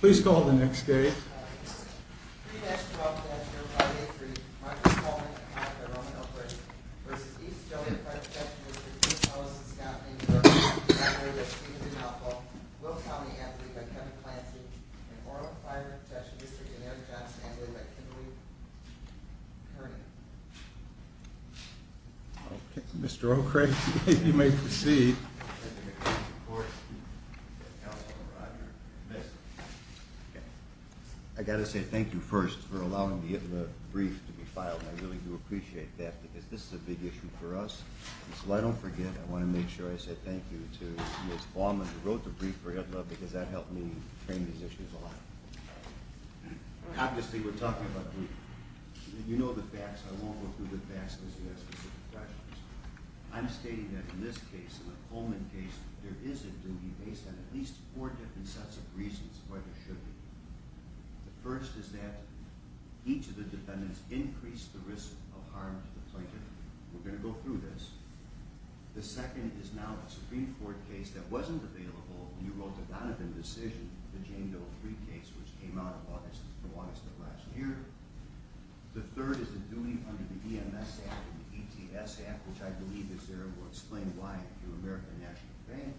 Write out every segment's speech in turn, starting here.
Please call the next gate. Mr. O'Krake, you may proceed. I got to say thank you first for allowing the brief to be filed. I really do appreciate that because this is a big issue for us. So I don't forget, I want to make sure I say thank you to Ms. Baumann who wrote the brief for EDLA because that helped me train these issues a lot. Obviously we're talking about duty. You know the facts. I won't go through the facts because you have specific questions. I'm stating that in this case, in the Coleman case, there is a duty based on at least four different sets of reasons why there should be. The first is that each of the defendants increased the risk of harm to the plaintiff. We're going to go through this. The second is now a Supreme Court case that wasn't available when you wrote the Donovan decision, the Jane Doe 3 case which came out in August of last year. The third is the duty under the EMS Act and the ETS Act which I believe is there and will explain why through American National Bank.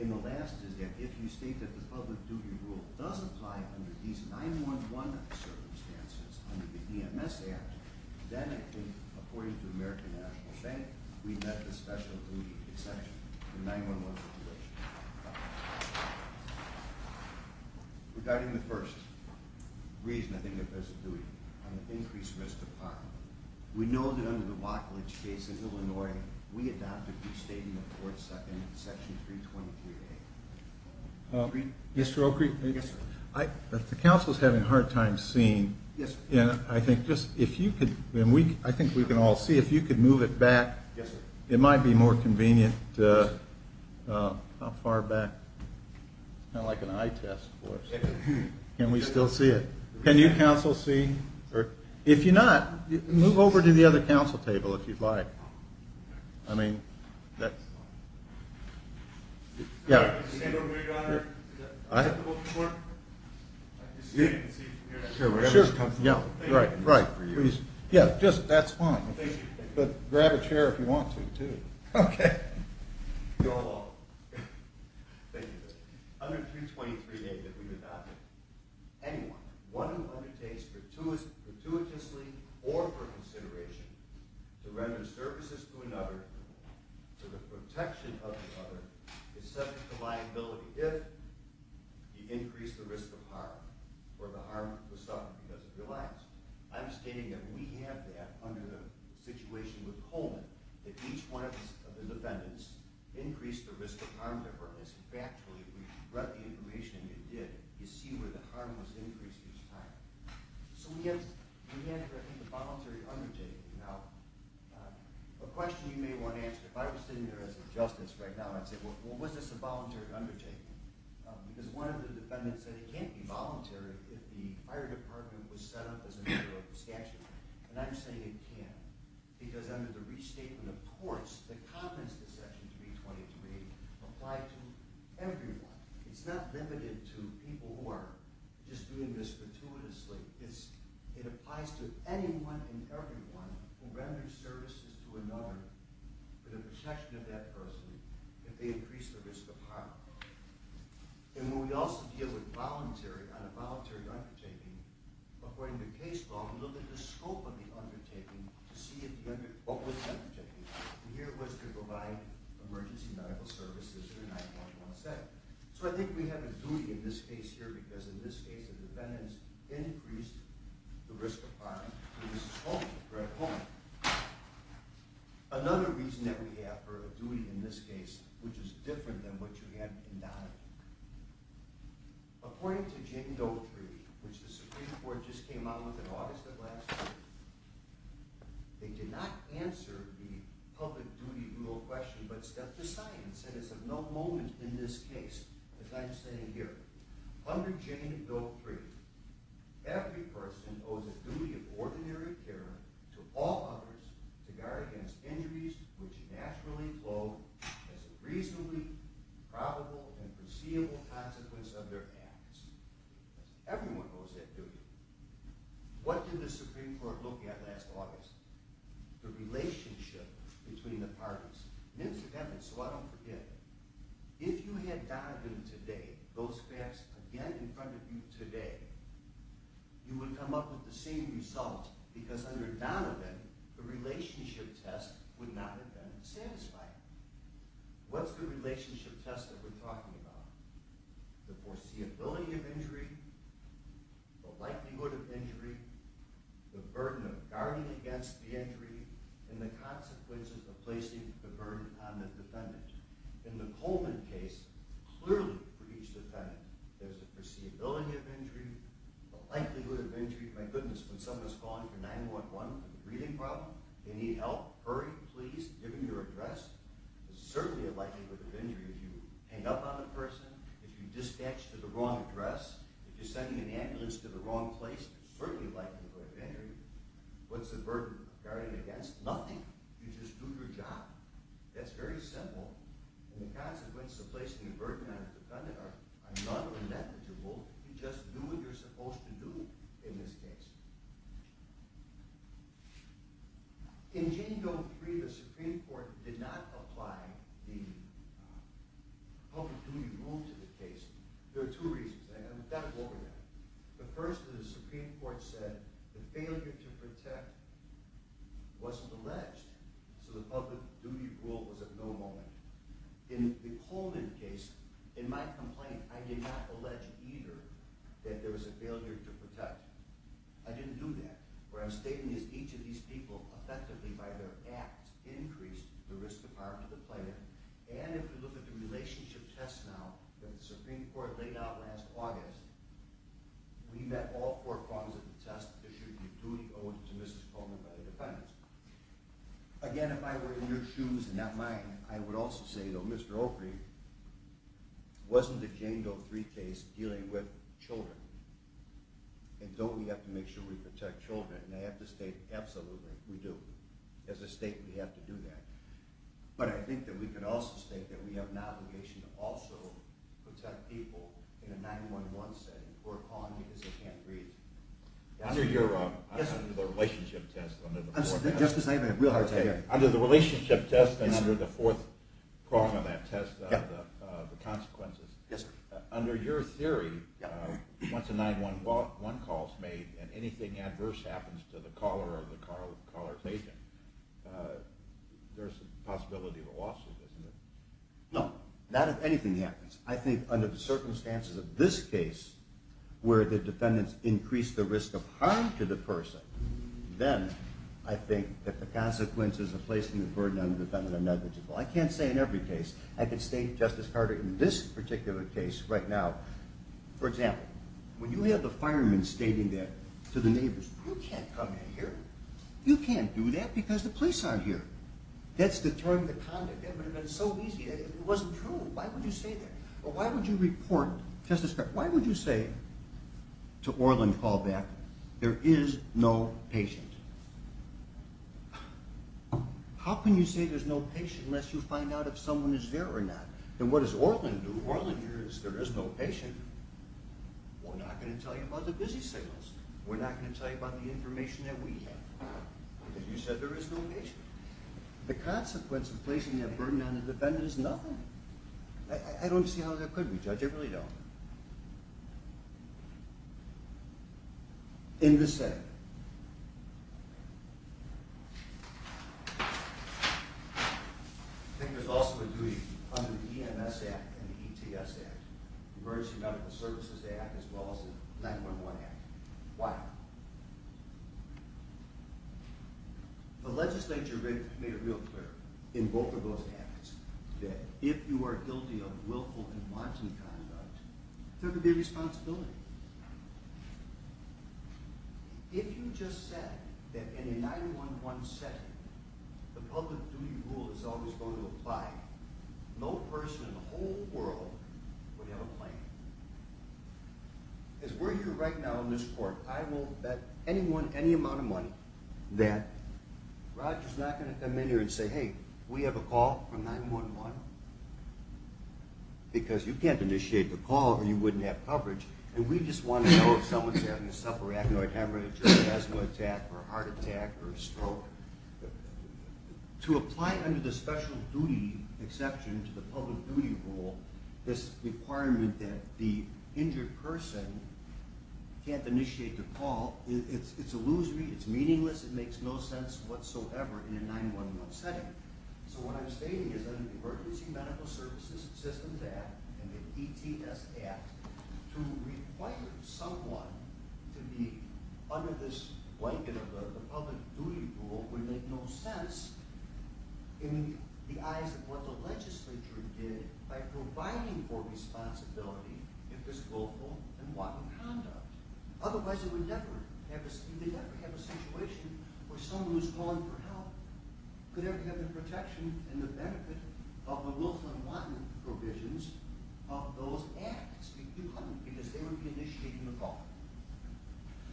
And the last is that if you state that the public duty rule does apply under these 9-1-1 circumstances under the EMS Act, then according to American National Bank, we've met the special duty exception for 9-1-1 situations. Regarding the first reason, I think there's a duty on the increased risk of harm, we know that under the Watkledge case in Illinois, we adopted the statement for Section 323A. Mr. O'Kreek, if the council is having a hard time seeing, I think we can all see, if you could move it back, it might be more convenient. How far back? Kind of like an eye test for us. Can we still see it? Can you council see? If you're not, move over to the other council table if you'd like. Your Honor, can I have the motion for it? I can see it from here. Sure, whatever is comfortable for you. Yeah, that's fine. But grab a chair if you want to, too. Okay. You're all welcome. Thank you. Under 323A that we've adopted, anyone, one who undertakes fortuitously or for consideration to render services to another, to the protection of another, is subject to liability if he increased the risk of harm or the harm was suffered because of reliance. I'm stating that we have that under the situation with Coleman, that each one of the defendants increased the risk of harm to her. In fact, we read the information and it did. You see where the harm was increased each time. So we have the voluntary undertaking. Now, a question you may want to ask, if I was sitting there as a justice right now, I'd say, well, was this a voluntary undertaking? Because one of the defendants said it can't be voluntary if the fire department was set up as a member of the statute. And I'm saying it can't because under the restatement of courts, the comments in section 323 apply to everyone. It's not limited to people who are just doing this fortuitously. It applies to anyone and everyone who renders services to another for the protection of that person if they increase the risk of harm. And when we also deal with voluntary, on a voluntary undertaking, according to case law, we look at the scope of the undertaking to see what was undertaken. And here it was to provide emergency medical services in a 9-1-1 set. So I think we have a duty in this case here because in this case the defendants increased the risk of harm to Mrs. Coleman, Greg Coleman. Another reason that we have for a duty in this case, which is different than what you had in Donovan, according to Jane Doe Treaty, which the Supreme Court just came out with in August of last year, they did not answer the public duty rule question but set the science. And it's of no moment in this case, as I'm saying here, under Jane Doe Treaty, every person owes a duty of ordinary care to all others to guard against injuries which naturally flow as a reasonably probable and foreseeable consequence of their acts. Everyone owes that duty. What did the Supreme Court look at last August? The relationship between the parties. And it's of evidence so I don't forget. If you had Donovan today, those facts again in front of you today, you would come up with the same result because under Donovan the relationship test would not have been satisfied. What's the relationship test that we're talking about? The foreseeability of injury, the likelihood of injury, the burden of guarding against the injury, and the consequences of placing the burden on the defendant. In the Coleman case, clearly for each defendant, there's a foreseeability of injury, a likelihood of injury. My goodness, when someone's calling for 911 for the breathing problem, they need help, hurry, please, give them your address, there's certainly a likelihood of injury if you hang up on the person, if you dispatch to the wrong address, if you're sending an ambulance to the wrong place, there's certainly a likelihood of injury. What's the burden of guarding against? Nothing. You just do your job. That's very simple. And the consequences of placing the burden on the defendant are none or negligible. You just do what you're supposed to do in this case. In Jane Doe 3, the Supreme Court did not apply the public duty rule to the case. There are two reasons. I'm going to go over that. The first is the Supreme Court said the failure to protect wasn't alleged, so the public duty rule was at no moment. In the Coleman case, in my complaint, I did not allege either that there was a failure to protect. I didn't do that. What I'm stating is each of these people effectively, by their act, increased the risk of harm to the plaintiff, and if you look at the relationship test now that the Supreme Court laid out last August, we met all four prongs of the test issued in duty owed to Mrs. Coleman by the defendants. Again, if I were in your shoes and not mine, I would also say, though, Mr. Oakley, wasn't the Jane Doe 3 case dealing with children? And don't we have to make sure we protect children? And I have to state, absolutely, we do. As a state, we have to do that. But I think that we can also state that we have an obligation to also protect people in a 911 setting who are calling because they can't breathe. Under the relationship test and under the fourth prong of that test, the consequences, under your theory, once a 911 call is made and anything adverse happens to the caller or the caller's agent, there's a possibility of a lawsuit, isn't there? No, not if anything happens. I think under the circumstances of this case, where the defendants increased the risk of harm to the person, then I think that the consequences of placing the burden on the defendant are negligible. I can't say in every case. I can state, Justice Carter, in this particular case right now, for example, when you have the fireman stating that to the neighbors, you can't come in here. You can't do that because the police aren't here. That's deterring the conduct. That would have been so easy. It wasn't true. Why would you say that? Why would you report, Justice Carter, why would you say to Orlin Callback, there is no patient? How can you say there's no patient unless you find out if someone is there or not? And what does Orlin do? Orlin hears there is no patient. We're not going to tell you about the busy signals. We're not going to tell you about the information that we have. Why? Because you said there is no patient. The consequence of placing that burden on the defendant is nothing. I don't see how that could be, Judge. I really don't. In this setting, I think there's also a duty under the EMS Act and the ETS Act, the Emergency Medical Services Act, as well as the 9-1-1 Act. Why? The legislature made it real clear in both of those acts that if you are guilty of willful and wanton conduct, there could be responsibility. If you just said that in a 9-1-1 setting, the public duty rule is always going to apply, no person in the whole world would have a claim. As we're here right now in this court, I will bet anyone any amount of money that Roger's not going to come in here and say, hey, we have a call from 9-1-1, because you can't initiate the call or you wouldn't have coverage. We just want to know if someone's having a subarachnoid hemorrhage or asthma attack or a heart attack or a stroke. To apply under the special duty exception to the public duty rule this requirement that the injured person can't initiate the call, it's illusory, it's meaningless, it makes no sense whatsoever in a 9-1-1 setting. So what I'm stating is that the Emergency Medical Services Systems Act and the ETS Act, to require someone to be under this blanket of the public duty rule would make no sense in the eyes of what the legislature did by providing for responsibility in this willful and wanton conduct. Otherwise they would never have a situation where someone who's calling for help could ever have the protection and the benefit of the willful and wanton provisions of those acts. You couldn't, because they wouldn't be initiating the call.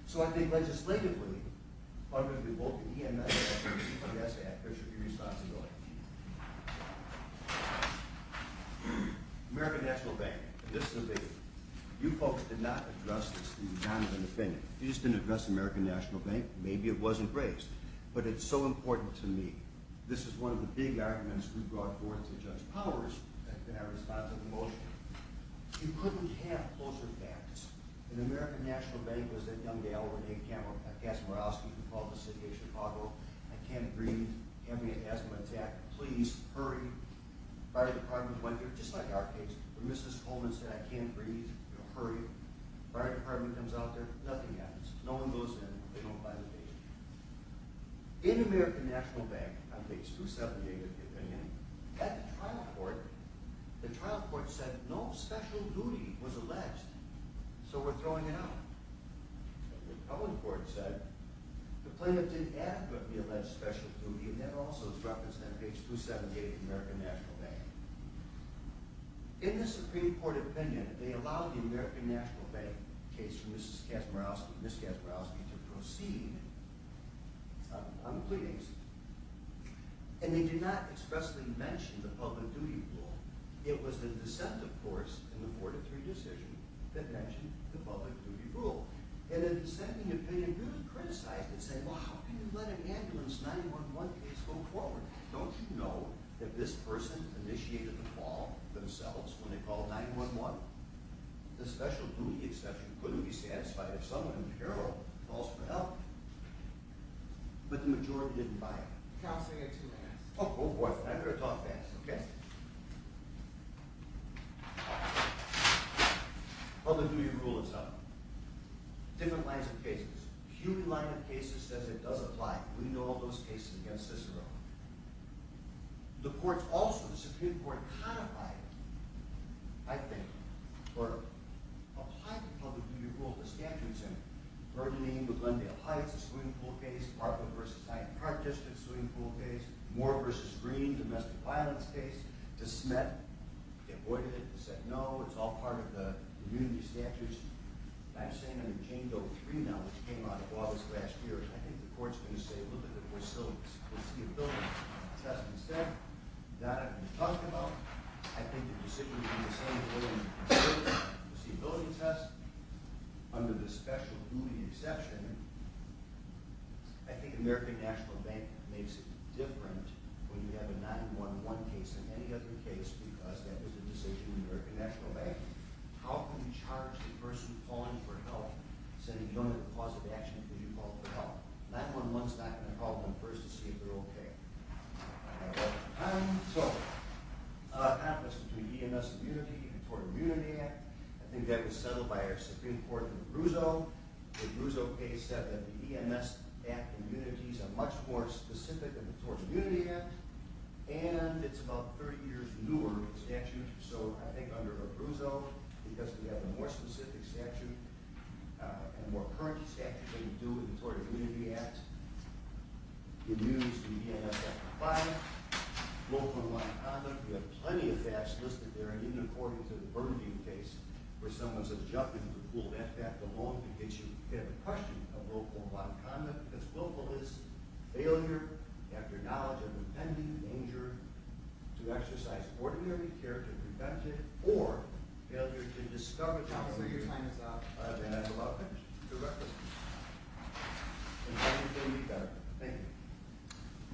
So I think legislatively, under the EMS Act and the ETS Act, there should be responsibility. American National Bank, this is a big one. You folks did not address this in your time of independence. You just didn't address American National Bank. Maybe it wasn't raised, but it's so important to me. This is one of the big arguments we brought forward to Judge Powers in our response to the motion. You couldn't have closer facts. In American National Bank, it was that young gal over there, Cass Morosky, who called the city of Chicago, I can't breathe, having a asthma attack, please hurry. The fire department went there, just like our case, where Mrs. Coleman said I can't breathe, hurry. The fire department comes out there, nothing happens. No one goes in, they don't find the patient. In American National Bank, on page 278 of the opinion, at the trial court, the trial court said no special duty was alleged, so we're throwing it out. The public court said the plaintiff did adequately allege special duty, and that also is referenced on page 278 of American National Bank. In the Supreme Court opinion, they allowed the American National Bank case for Mrs. Cass Morosky to proceed on pleadings, and they did not expressly mention the public duty rule. It was the dissent, of course, in the 4-3 decision that mentioned the public duty rule. In the dissenting opinion, it was criticized and said, well, how can you let an ambulance 9-1-1 case go forward? Don't you know that this person initiated the call themselves when they called 9-1-1? The special duty exception couldn't be satisfied if someone in peril calls for help, but the majority didn't buy it. Oh, boy, I better talk fast, okay? Public duty rule itself. Different lines of cases. CUNY line of cases says it does apply. We know all those cases against Cicero. The courts also, the Supreme Court codified it, I think, or applied the public duty rule to the statute center. Burgundy v. Glendale Heights, a swing pool case. Parkland v. Hyde Park, just a swing pool case. Moore v. Green, a domestic violence case. De Smet avoided it and said, no, it's all part of the immunity statutes. I'm saying under Chango 3 now, which came out of August last year, I think the court's going to say, look at the facilities. Under the special duty exception, I think American National Bank makes it different when you have a 9-1-1 case than any other case because that is a decision of the American National Bank. How can we charge the person calling for help, saying you don't have a positive reaction because you called for help? 9-1-1's not going to call them first to see if they're okay. I think that was settled by our Supreme Court in Abruzzo. The Abruzzo case said that the EMS Act immunities are much more specific than the Tort Immunity Act, and it's about 30 years newer than the statute. So I think under Abruzzo, because we have a more specific statute and a more current statute than we do with the Tort Immunity Act, immunities can be EMS Act compliant. Local and wide conduct, we have plenty of facts listed there.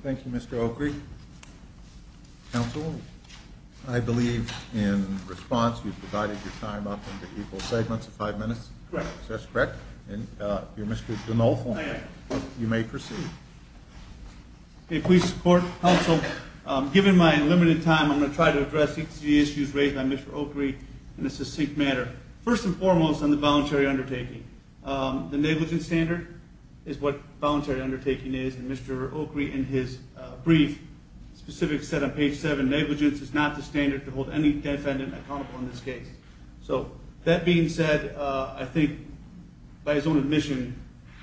Thank you, Mr. Oakley. Counsel, I believe in response you provided your time up into equal segments of five minutes. Correct. If that's correct, Mr. Dunolfo, you may proceed. If we support, counsel, given my limited time, I'm going to try to address each of the issues raised by Mr. Oakley in a succinct manner. First and foremost on the voluntary undertaking. The negligence standard is what voluntary undertaking is, and Mr. Oakley in his brief specifically said on page 7, negligence is not the standard to hold any defendant accountable in this case. So that being said, I think by his own admission,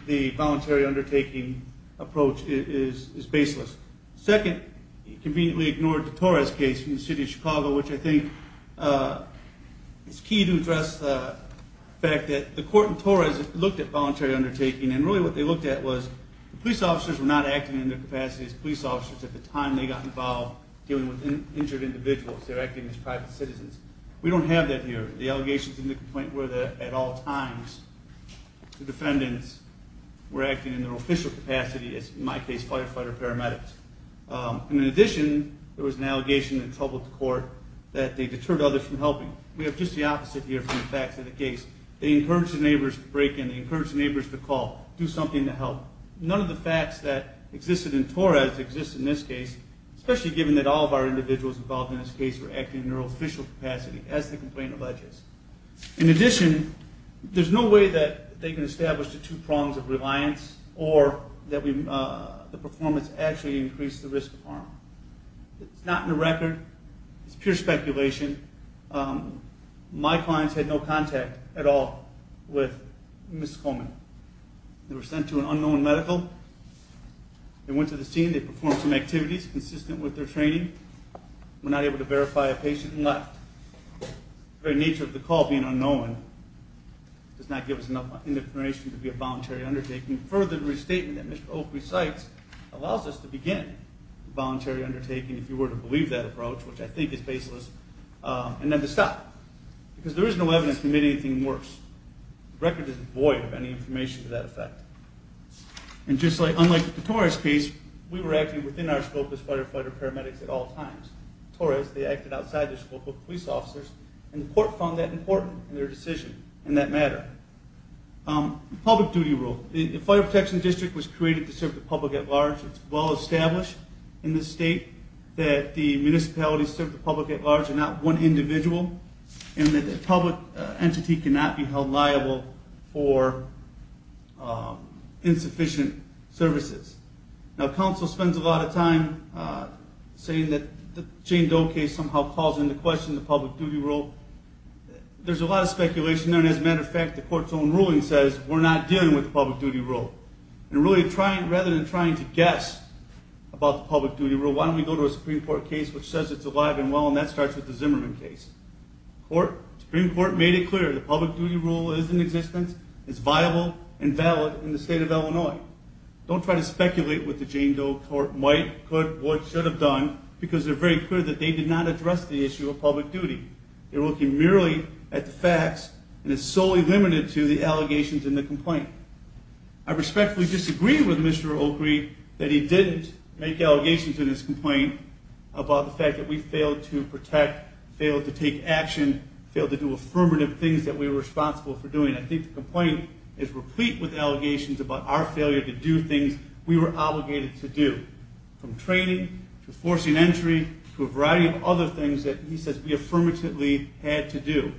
the voluntary undertaking approach is baseless. Second, he conveniently ignored the Torres case in the city of Chicago, which I think is key to address the fact that the court in Torres looked at voluntary undertaking, and really what they looked at was the police officers were not acting in their capacity as police officers at the time they got involved dealing with injured individuals. They were acting as private citizens. We don't have that here. The allegations in the complaint were that at all times the defendants were acting in their official capacity as, in my case, firefighter paramedics. In addition, there was an allegation that troubled the court that they deterred others from helping. We have just the opposite here from the facts of the case. They encouraged the neighbors to break in. None of the facts that existed in Torres exist in this case, especially given that all of our individuals involved in this case were acting in their official capacity as the complaint alleges. In addition, there's no way that they can establish the two prongs of reliance or that the performance actually increased the risk of harm. It's not in the record. It's pure speculation. My clients had no contact at all with Ms. Coleman. They were sent to an unknown medical. They went to the scene. They performed some activities consistent with their training. Were not able to verify a patient and left. The very nature of the call being unknown does not give us enough information to be a voluntary undertaking. Further, the restatement that Mr. Oakley cites allows us to begin a voluntary undertaking, if you were to believe that approach, which I think is baseless, and then to stop. Because there is no evidence to make anything worse. The record is void of any information to that effect. And just like, unlike the Torres case, we were acting within our scope as firefighter paramedics at all times. Torres, they acted outside the scope of police officers, and the court found that important in their decision in that matter. Public duty rule. The Fire Protection District was created to serve the public at large. It's well established in this state that the municipalities serve the public at large and not one individual. And that the public entity cannot be held liable for insufficient services. Now, counsel spends a lot of time saying that the Jane Doe case somehow calls into question the public duty rule. There's a lot of speculation there, and as a matter of fact, the court's own ruling says we're not dealing with the public duty rule. And really, rather than trying to guess about the public duty rule, why don't we go to a Supreme Court case which says it's alive and well, and that starts with the Zimmerman case. The Supreme Court made it clear the public duty rule is in existence, is viable, and valid in the state of Illinois. Don't try to speculate what the Jane Doe court might, could, or should have done, because they're very clear that they did not address the issue of public duty. They're looking merely at the facts, and it's solely limited to the allegations in the complaint. I respectfully disagree with Mr. Oakley that he didn't make allegations in his complaint about the fact that we failed to protect, failed to take action, failed to do affirmative things that we were responsible for doing. I think the complaint is replete with allegations about our failure to do things we were obligated to do, from training, to forcing entry, to a variety of other things that he says we affirmatively had to do.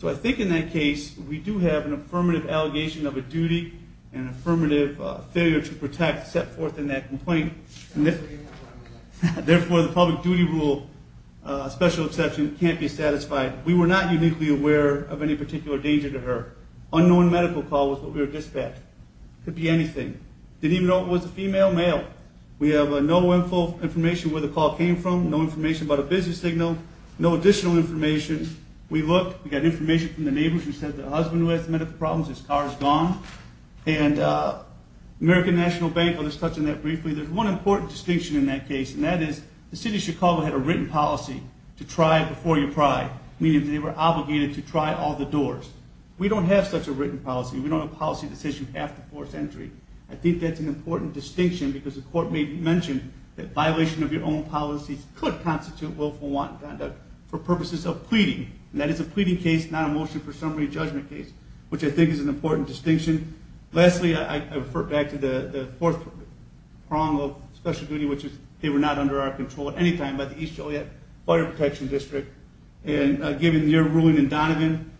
So I think in that case, we do have an affirmative allegation of a duty and an affirmative failure to protect set forth in that complaint. Therefore, the public duty rule, special exception, can't be satisfied. We were not uniquely aware of any particular danger to her. Unknown medical call was what we were dispatched. Could be anything. Didn't even know it was a female, male. We have no information where the call came from, no information about a business signal, no additional information. We looked. We got information from the neighbors who said the husband who has medical problems, his car is gone. And American National Bank, I'll just touch on that briefly. There's one important distinction in that case, and that is the city of Chicago had a written policy to try before you pry, meaning that they were obligated to try all the doors. We don't have such a written policy. We don't have a policy that says you have to force entry. I think that's an important distinction because the court may have mentioned that violation of your own policies could constitute willful wanton conduct for purposes of pleading. And that is a pleading case, not a motion for summary judgment case, which I think is an important distinction. Lastly, I refer back to the fourth prong of special duty, which is they were not under our control at any time by the East Joliet Fire Protection District. And given your ruling in Donovan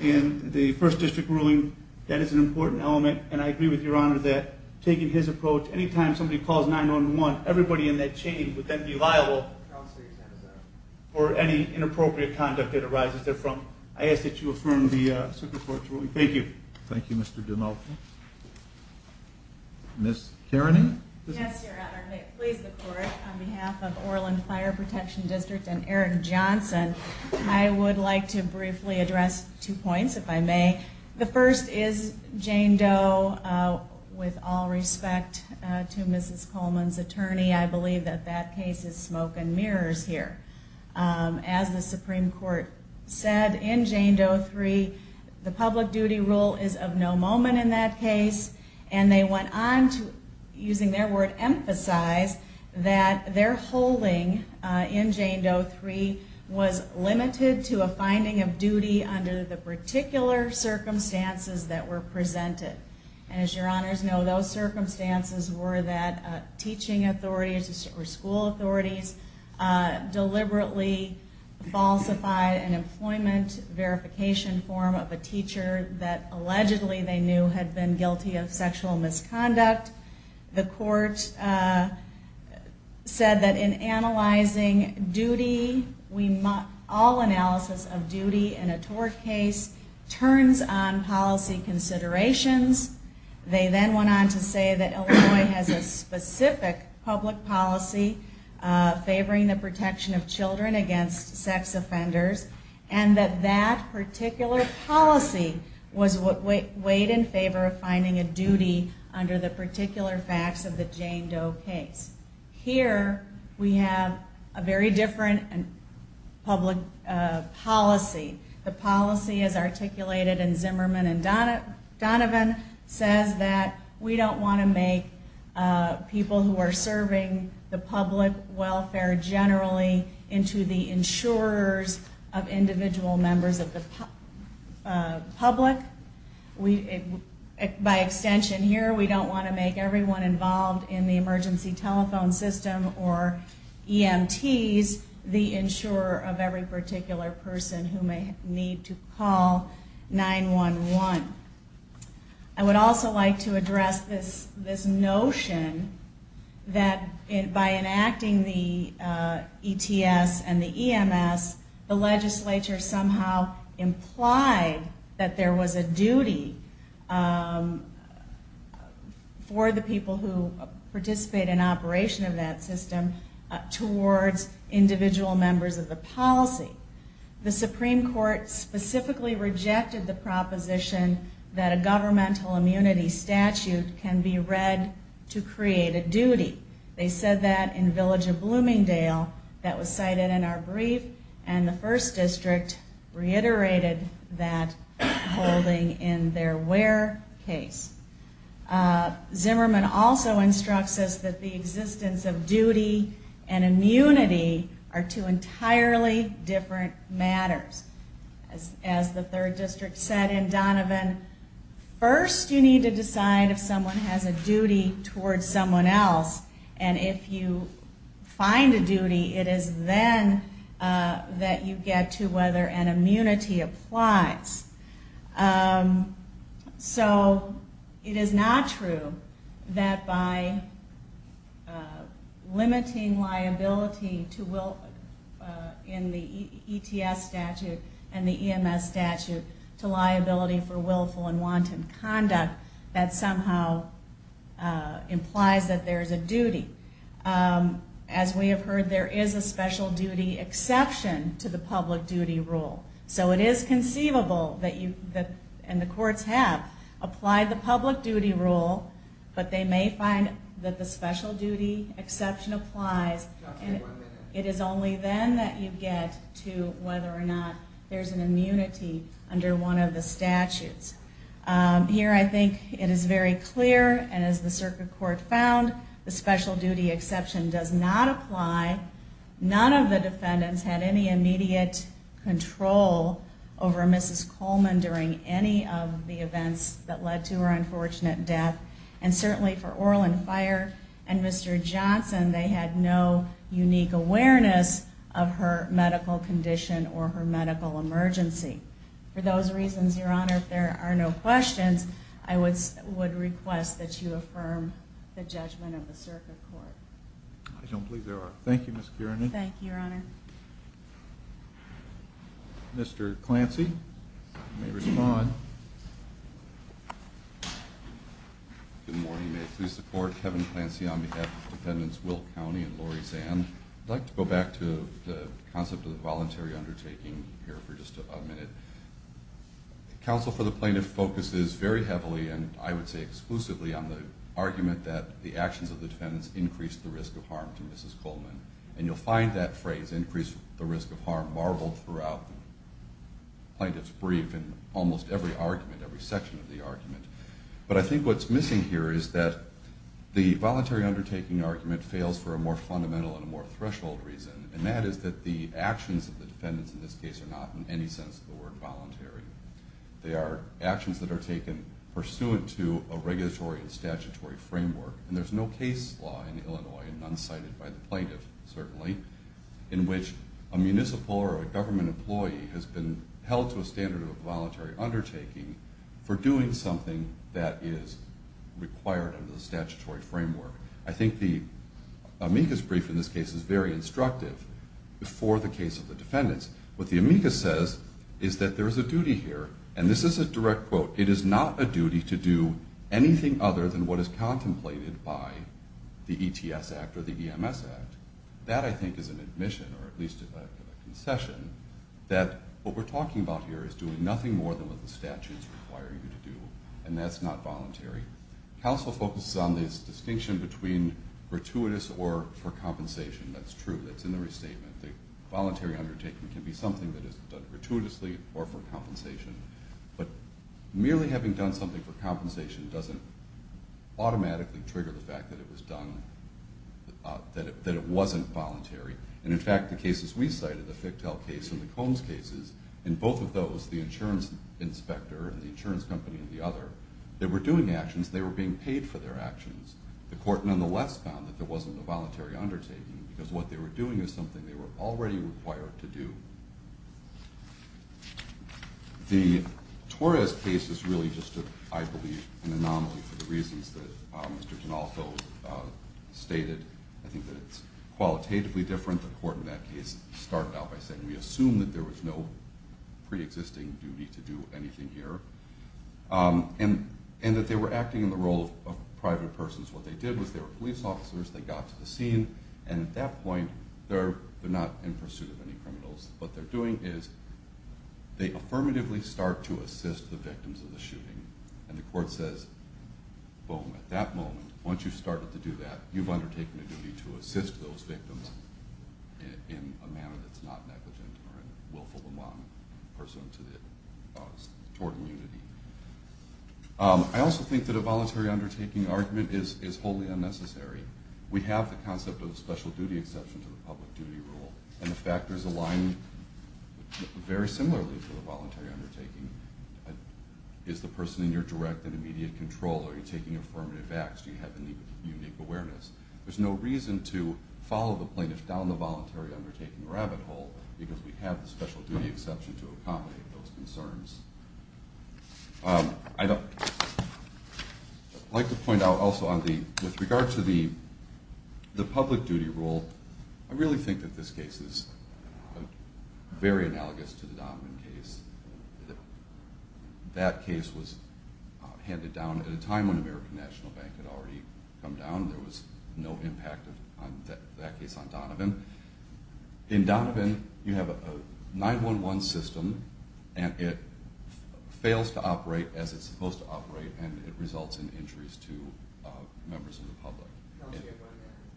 and the first district ruling, that is an important element. And I agree with Your Honor that taking his approach, anytime somebody calls 911, everybody in that chain would then be liable for any inappropriate conduct that arises therefrom. I ask that you affirm the circuit court's ruling. Thank you. Thank you, Mr. Donovan. Ms. Kearney? Yes, Your Honor. May it please the court, on behalf of Orland Fire Protection District and Aaron Johnson, I would like to briefly address two points, if I may. The first is Jane Doe. With all respect to Mrs. Coleman's attorney, I believe that that case is smoke and mirrors here. As the Supreme Court said in Jane Doe 3, the public duty rule is of no moment in that case. And they went on to, using their word, emphasize that their holding in Jane Doe 3 was limited to a finding of duty under the particular circumstances that were presented. And as Your Honors know, those circumstances were that teaching authorities or school authorities deliberately falsified an employment verification form of a teacher that allegedly they knew had been guilty of sexual misconduct. The court said that in analyzing duty, all analysis of duty in a tort case turns on policy considerations. They then went on to say that Illinois has a specific public policy favoring the protection of children against sex offenders. And that that particular policy was what weighed in favor of finding a duty under the particular facts of the Jane Doe case. Here, we have a very different public policy. The policy as articulated in Zimmerman and Donovan says that we don't want to make people who are serving the public welfare generally into the insurers of individual members of the public. By extension here, we don't want to make everyone involved in the emergency telephone system or EMTs the insurer of every particular person who may need to call 911. I would also like to address this notion that by enacting the ETS and the EMS, the legislature somehow implied that there was a duty for the people who participate in operation of that system towards individual members of the policy. The Supreme Court specifically rejected the proposition that a governmental immunity statute can be read to create a duty. They said that in Village of Bloomingdale that was cited in our brief and the First District reiterated that holding in their Ware case. Zimmerman also instructs us that the existence of duty and immunity are two entirely different matters. As the Third District said in Donovan, first you need to decide if someone has a duty towards someone else. And if you find a duty, it is then that you get to whether an immunity applies. So it is not true that by limiting liability in the ETS statute and the EMS statute to liability for willful and wanton conduct, that somehow implies that there is a duty. As we have heard, there is a special duty exception to the public duty rule. So it is conceivable, and the courts have applied the public duty rule, but they may find that the special duty exception applies. It is only then that you get to whether or not there is an immunity under one of the statutes. Here I think it is very clear, and as the circuit court found, the special duty exception does not apply. None of the defendants had any immediate control over Mrs. Coleman during any of the events that led to her unfortunate death. And certainly for Orlin Fire and Mr. Johnson, they had no unique awareness of her medical condition or her medical emergency. For those reasons, Your Honor, if there are no questions, I would request that you affirm the judgment of the circuit court. I don't believe there are. Thank you, Ms. Kiernan. Thank you, Your Honor. Mr. Clancy, you may respond. Good morning. May I please support Kevin Clancy on behalf of Defendants Will County and Lori Zand? I'd like to go back to the concept of the voluntary undertaking here for just a minute. Counsel for the Plaintiff focuses very heavily, and I would say exclusively, on the argument that the actions of the defendants increased the risk of harm to Mrs. Coleman. And you'll find that phrase, increase the risk of harm, marveled throughout the Plaintiff's brief in almost every argument, every section of the argument. But I think what's missing here is that the voluntary undertaking argument fails for a more fundamental and a more threshold reason, and that is that the actions of the defendants in this case are not, in any sense, the word voluntary. They are actions that are taken pursuant to a regulatory and statutory framework. And there's no case law in Illinois, and none cited by the Plaintiff, certainly, in which a municipal or a government employee has been held to a standard of a voluntary undertaking for doing something that is required under the statutory framework. I think the amicus brief in this case is very instructive for the case of the defendants. What the amicus says is that there is a duty here, and this is a direct quote, it is not a duty to do anything other than what is contemplated by the ETS Act or the EMS Act. That, I think, is an admission, or at least a concession, that what we're talking about here is doing nothing more than what the statutes require you to do, and that's not voluntary. Counsel focuses on this distinction between gratuitous or for compensation. That's true. That's in the restatement. The voluntary undertaking can be something that is done gratuitously or for compensation, but merely having done something for compensation doesn't automatically trigger the fact that it was done, that it wasn't voluntary. And, in fact, the cases we cited, the Ficktell case and the Combs cases, and both of those, the insurance inspector and the insurance company and the other, they were doing actions. They were being paid for their actions. The court, nonetheless, found that there wasn't a voluntary undertaking because what they were doing is something they were already required to do. The Torres case is really just, I believe, an anomaly for the reasons that Mr. DeNalso stated. I think that it's qualitatively different. The court in that case started out by saying, we assume that there was no preexisting duty to do anything here. And that they were acting in the role of private persons. What they did was they were police officers, they got to the scene, and at that point they're not in pursuit of any criminals. What they're doing is they affirmatively start to assist the victims of the shooting, and the court says, boom, at that moment, once you've started to do that, you've undertaken a duty to assist those victims in a manner that's not negligent or willful among persons toward immunity. I also think that a voluntary undertaking argument is wholly unnecessary. We have the concept of a special duty exception to the public duty rule, and the factors align very similarly for the voluntary undertaking. Is the person in your direct and immediate control? Are you taking affirmative acts? Do you have any unique awareness? There's no reason to follow the plaintiff down the voluntary undertaking rabbit hole because we have the special duty exception to accommodate those concerns. I'd like to point out also with regard to the public duty rule, I really think that this case is very analogous to the Donovan case. That case was handed down at a time when American National Bank had already come down. In Donovan, you have a 911 system, and it fails to operate as it's supposed to operate, and it results in injuries to members of the public.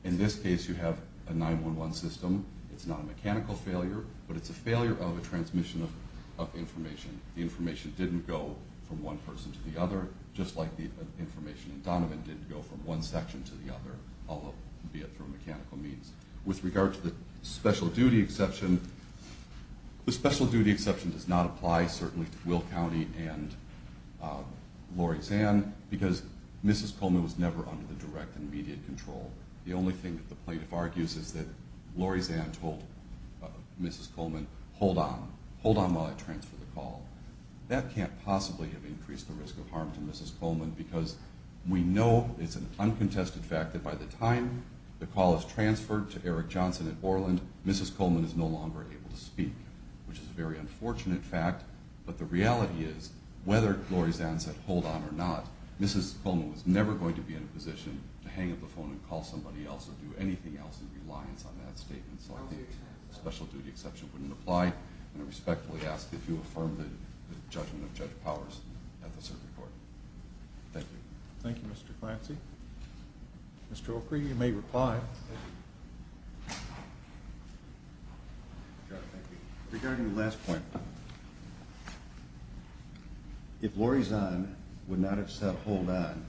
In this case, you have a 911 system. It's not a mechanical failure, but it's a failure of a transmission of information. The information didn't go from one person to the other, just like the information in Donovan didn't go from one section to the other, albeit through mechanical means. With regard to the special duty exception, the special duty exception does not apply certainly to Will County and Lori Zahn because Mrs. Coleman was never under the direct and immediate control. The only thing that the plaintiff argues is that Lori Zahn told Mrs. Coleman, hold on, hold on while I transfer the call. That can't possibly have increased the risk of harm to Mrs. Coleman because we know it's an uncontested fact that by the time the call is transferred to Eric Johnson at Orland, Mrs. Coleman is no longer able to speak, which is a very unfortunate fact. But the reality is, whether Lori Zahn said hold on or not, Mrs. Coleman was never going to be in a position to hang up the phone and call somebody else or do anything else in reliance on that statement, so the special duty exception wouldn't apply. And I respectfully ask that you affirm the judgment of Judge Powers at the circuit court. Thank you. Thank you, Mr. Clancy. Mr. O'Keefe, you may reply. Thank you. Regarding the last point, if Lori Zahn would not have said hold on,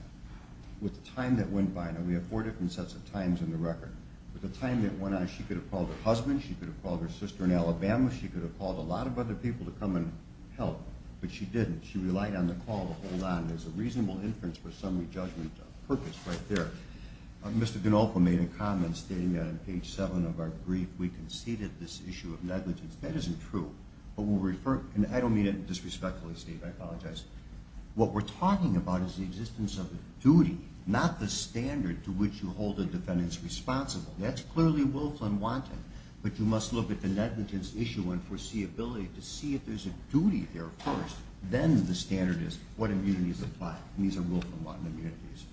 with the time that went by, and we have four different sets of times in the record, with the time that went on, she could have called her husband, she could have called her sister in Alabama, she could have called a lot of other people to come and help, but she didn't. She relied on the call to hold on. There's a reasonable inference for summary judgment purpose right there. Mr. Ganolfo made a comment stating that on page 7 of our brief, we conceded this issue of negligence. That isn't true, but we'll refer to it, and I don't mean it in a disrespectful statement. I apologize. What we're talking about is the existence of duty, not the standard to which you hold the defendants responsible. That's clearly willful and wanton, but you must look at the negligence issue and foreseeability to see if there's a duty there first. Then the standard is what immunities apply. These are willful and wanton immunities.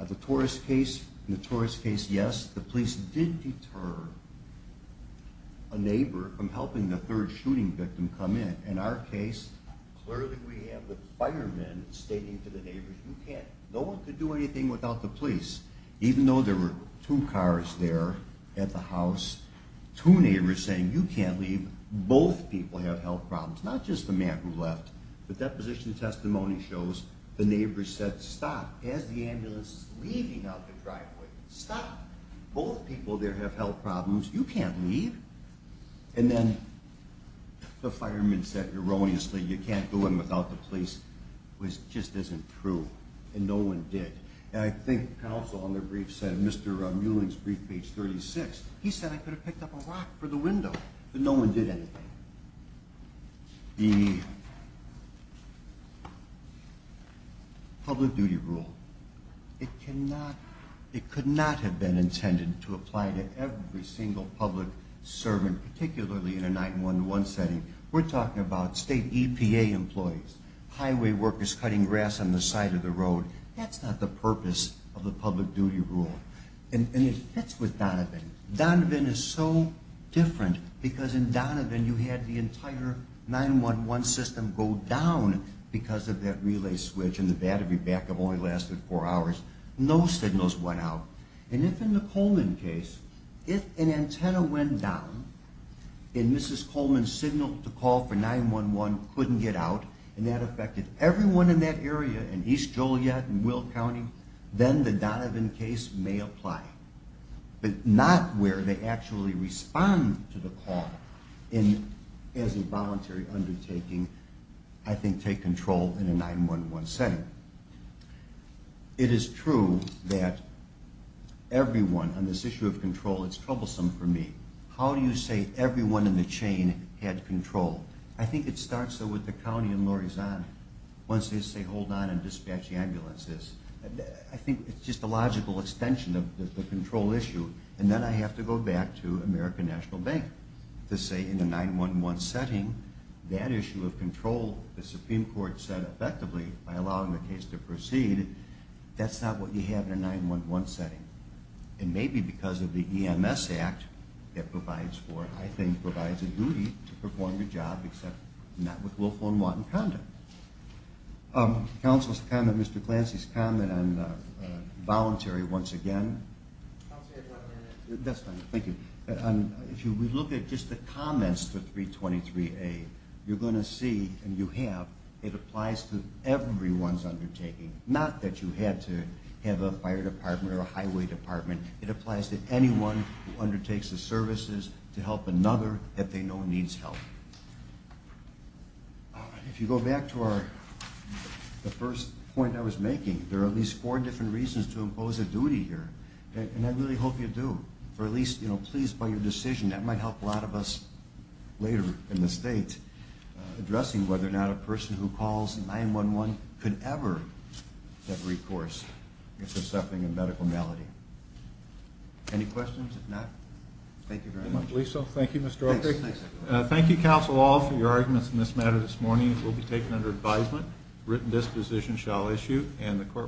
The Torres case, yes, the police did deter a neighbor from helping the third shooting victim come in. In our case, clearly we have the firemen stating to the neighbors, no one could do anything without the police, even though there were two cars there at the house, two neighbors saying, you can't leave. Both people have health problems, not just the man who left. The deposition testimony shows the neighbors said, stop. As the ambulance is leaving out the driveway, stop. Both people there have health problems. You can't leave. And then the firemen said erroneously, you can't do it without the police, which just isn't true, and no one did. And I think counsel on their brief said, Mr. Muelling's brief, page 36, he said I could have picked up a rock for the window, but no one did anything. The public duty rule, it could not have been intended to apply to every single public servant, particularly in a 911 setting. We're talking about state EPA employees, highway workers cutting grass on the side of the road. That's not the purpose of the public duty rule. And it fits with Donovan. Donovan is so different because in Donovan, you had the entire 911 system go down because of that relay switch and the battery backup only lasted four hours. No signals went out. And if in the Coleman case, if an antenna went down and Mrs. Coleman's signal to call for 911 couldn't get out, and that affected everyone in that area in East Joliet and Will County, then the Donovan case may apply. But not where they actually respond to the call as a voluntary undertaking, I think, take control in a 911 setting. It is true that everyone on this issue of control, it's troublesome for me. How do you say everyone in the chain had control? I think it starts, though, with the county and Laurie Zahn. Once they say hold on and dispatch the ambulances, I think it's just a logical extension of the control issue. And then I have to go back to American National Bank to say in a 911 setting, that issue of control, the Supreme Court said effectively, by allowing the case to proceed, that's not what you have in a 911 setting. And maybe because of the EMS Act that provides for it, I think provides a duty to perform your job, except not with willful and wanton conduct. Counsel's comment, Mr. Clancy's comment on voluntary once again. I'll say it one more time. That's fine, thank you. If you look at just the comments to 323A, you're going to see, and you have, it applies to everyone's undertaking, not that you had to have a fire department or a highway department. It applies to anyone who undertakes the services to help another that they know needs help. If you go back to the first point I was making, there are at least four different reasons to impose a duty here, and I really hope you do. Or at least, you know, please, by your decision, that might help a lot of us later in the state, addressing whether or not a person who calls 911 could ever have recourse if they're suffering a medical malady. Any questions? If not, thank you very much. Thank you, Mr. Oakley. Thank you, counsel, all, for your arguments in this matter this morning. It will be taken under advisement. Written disposition shall issue, and the court will stand adjourned.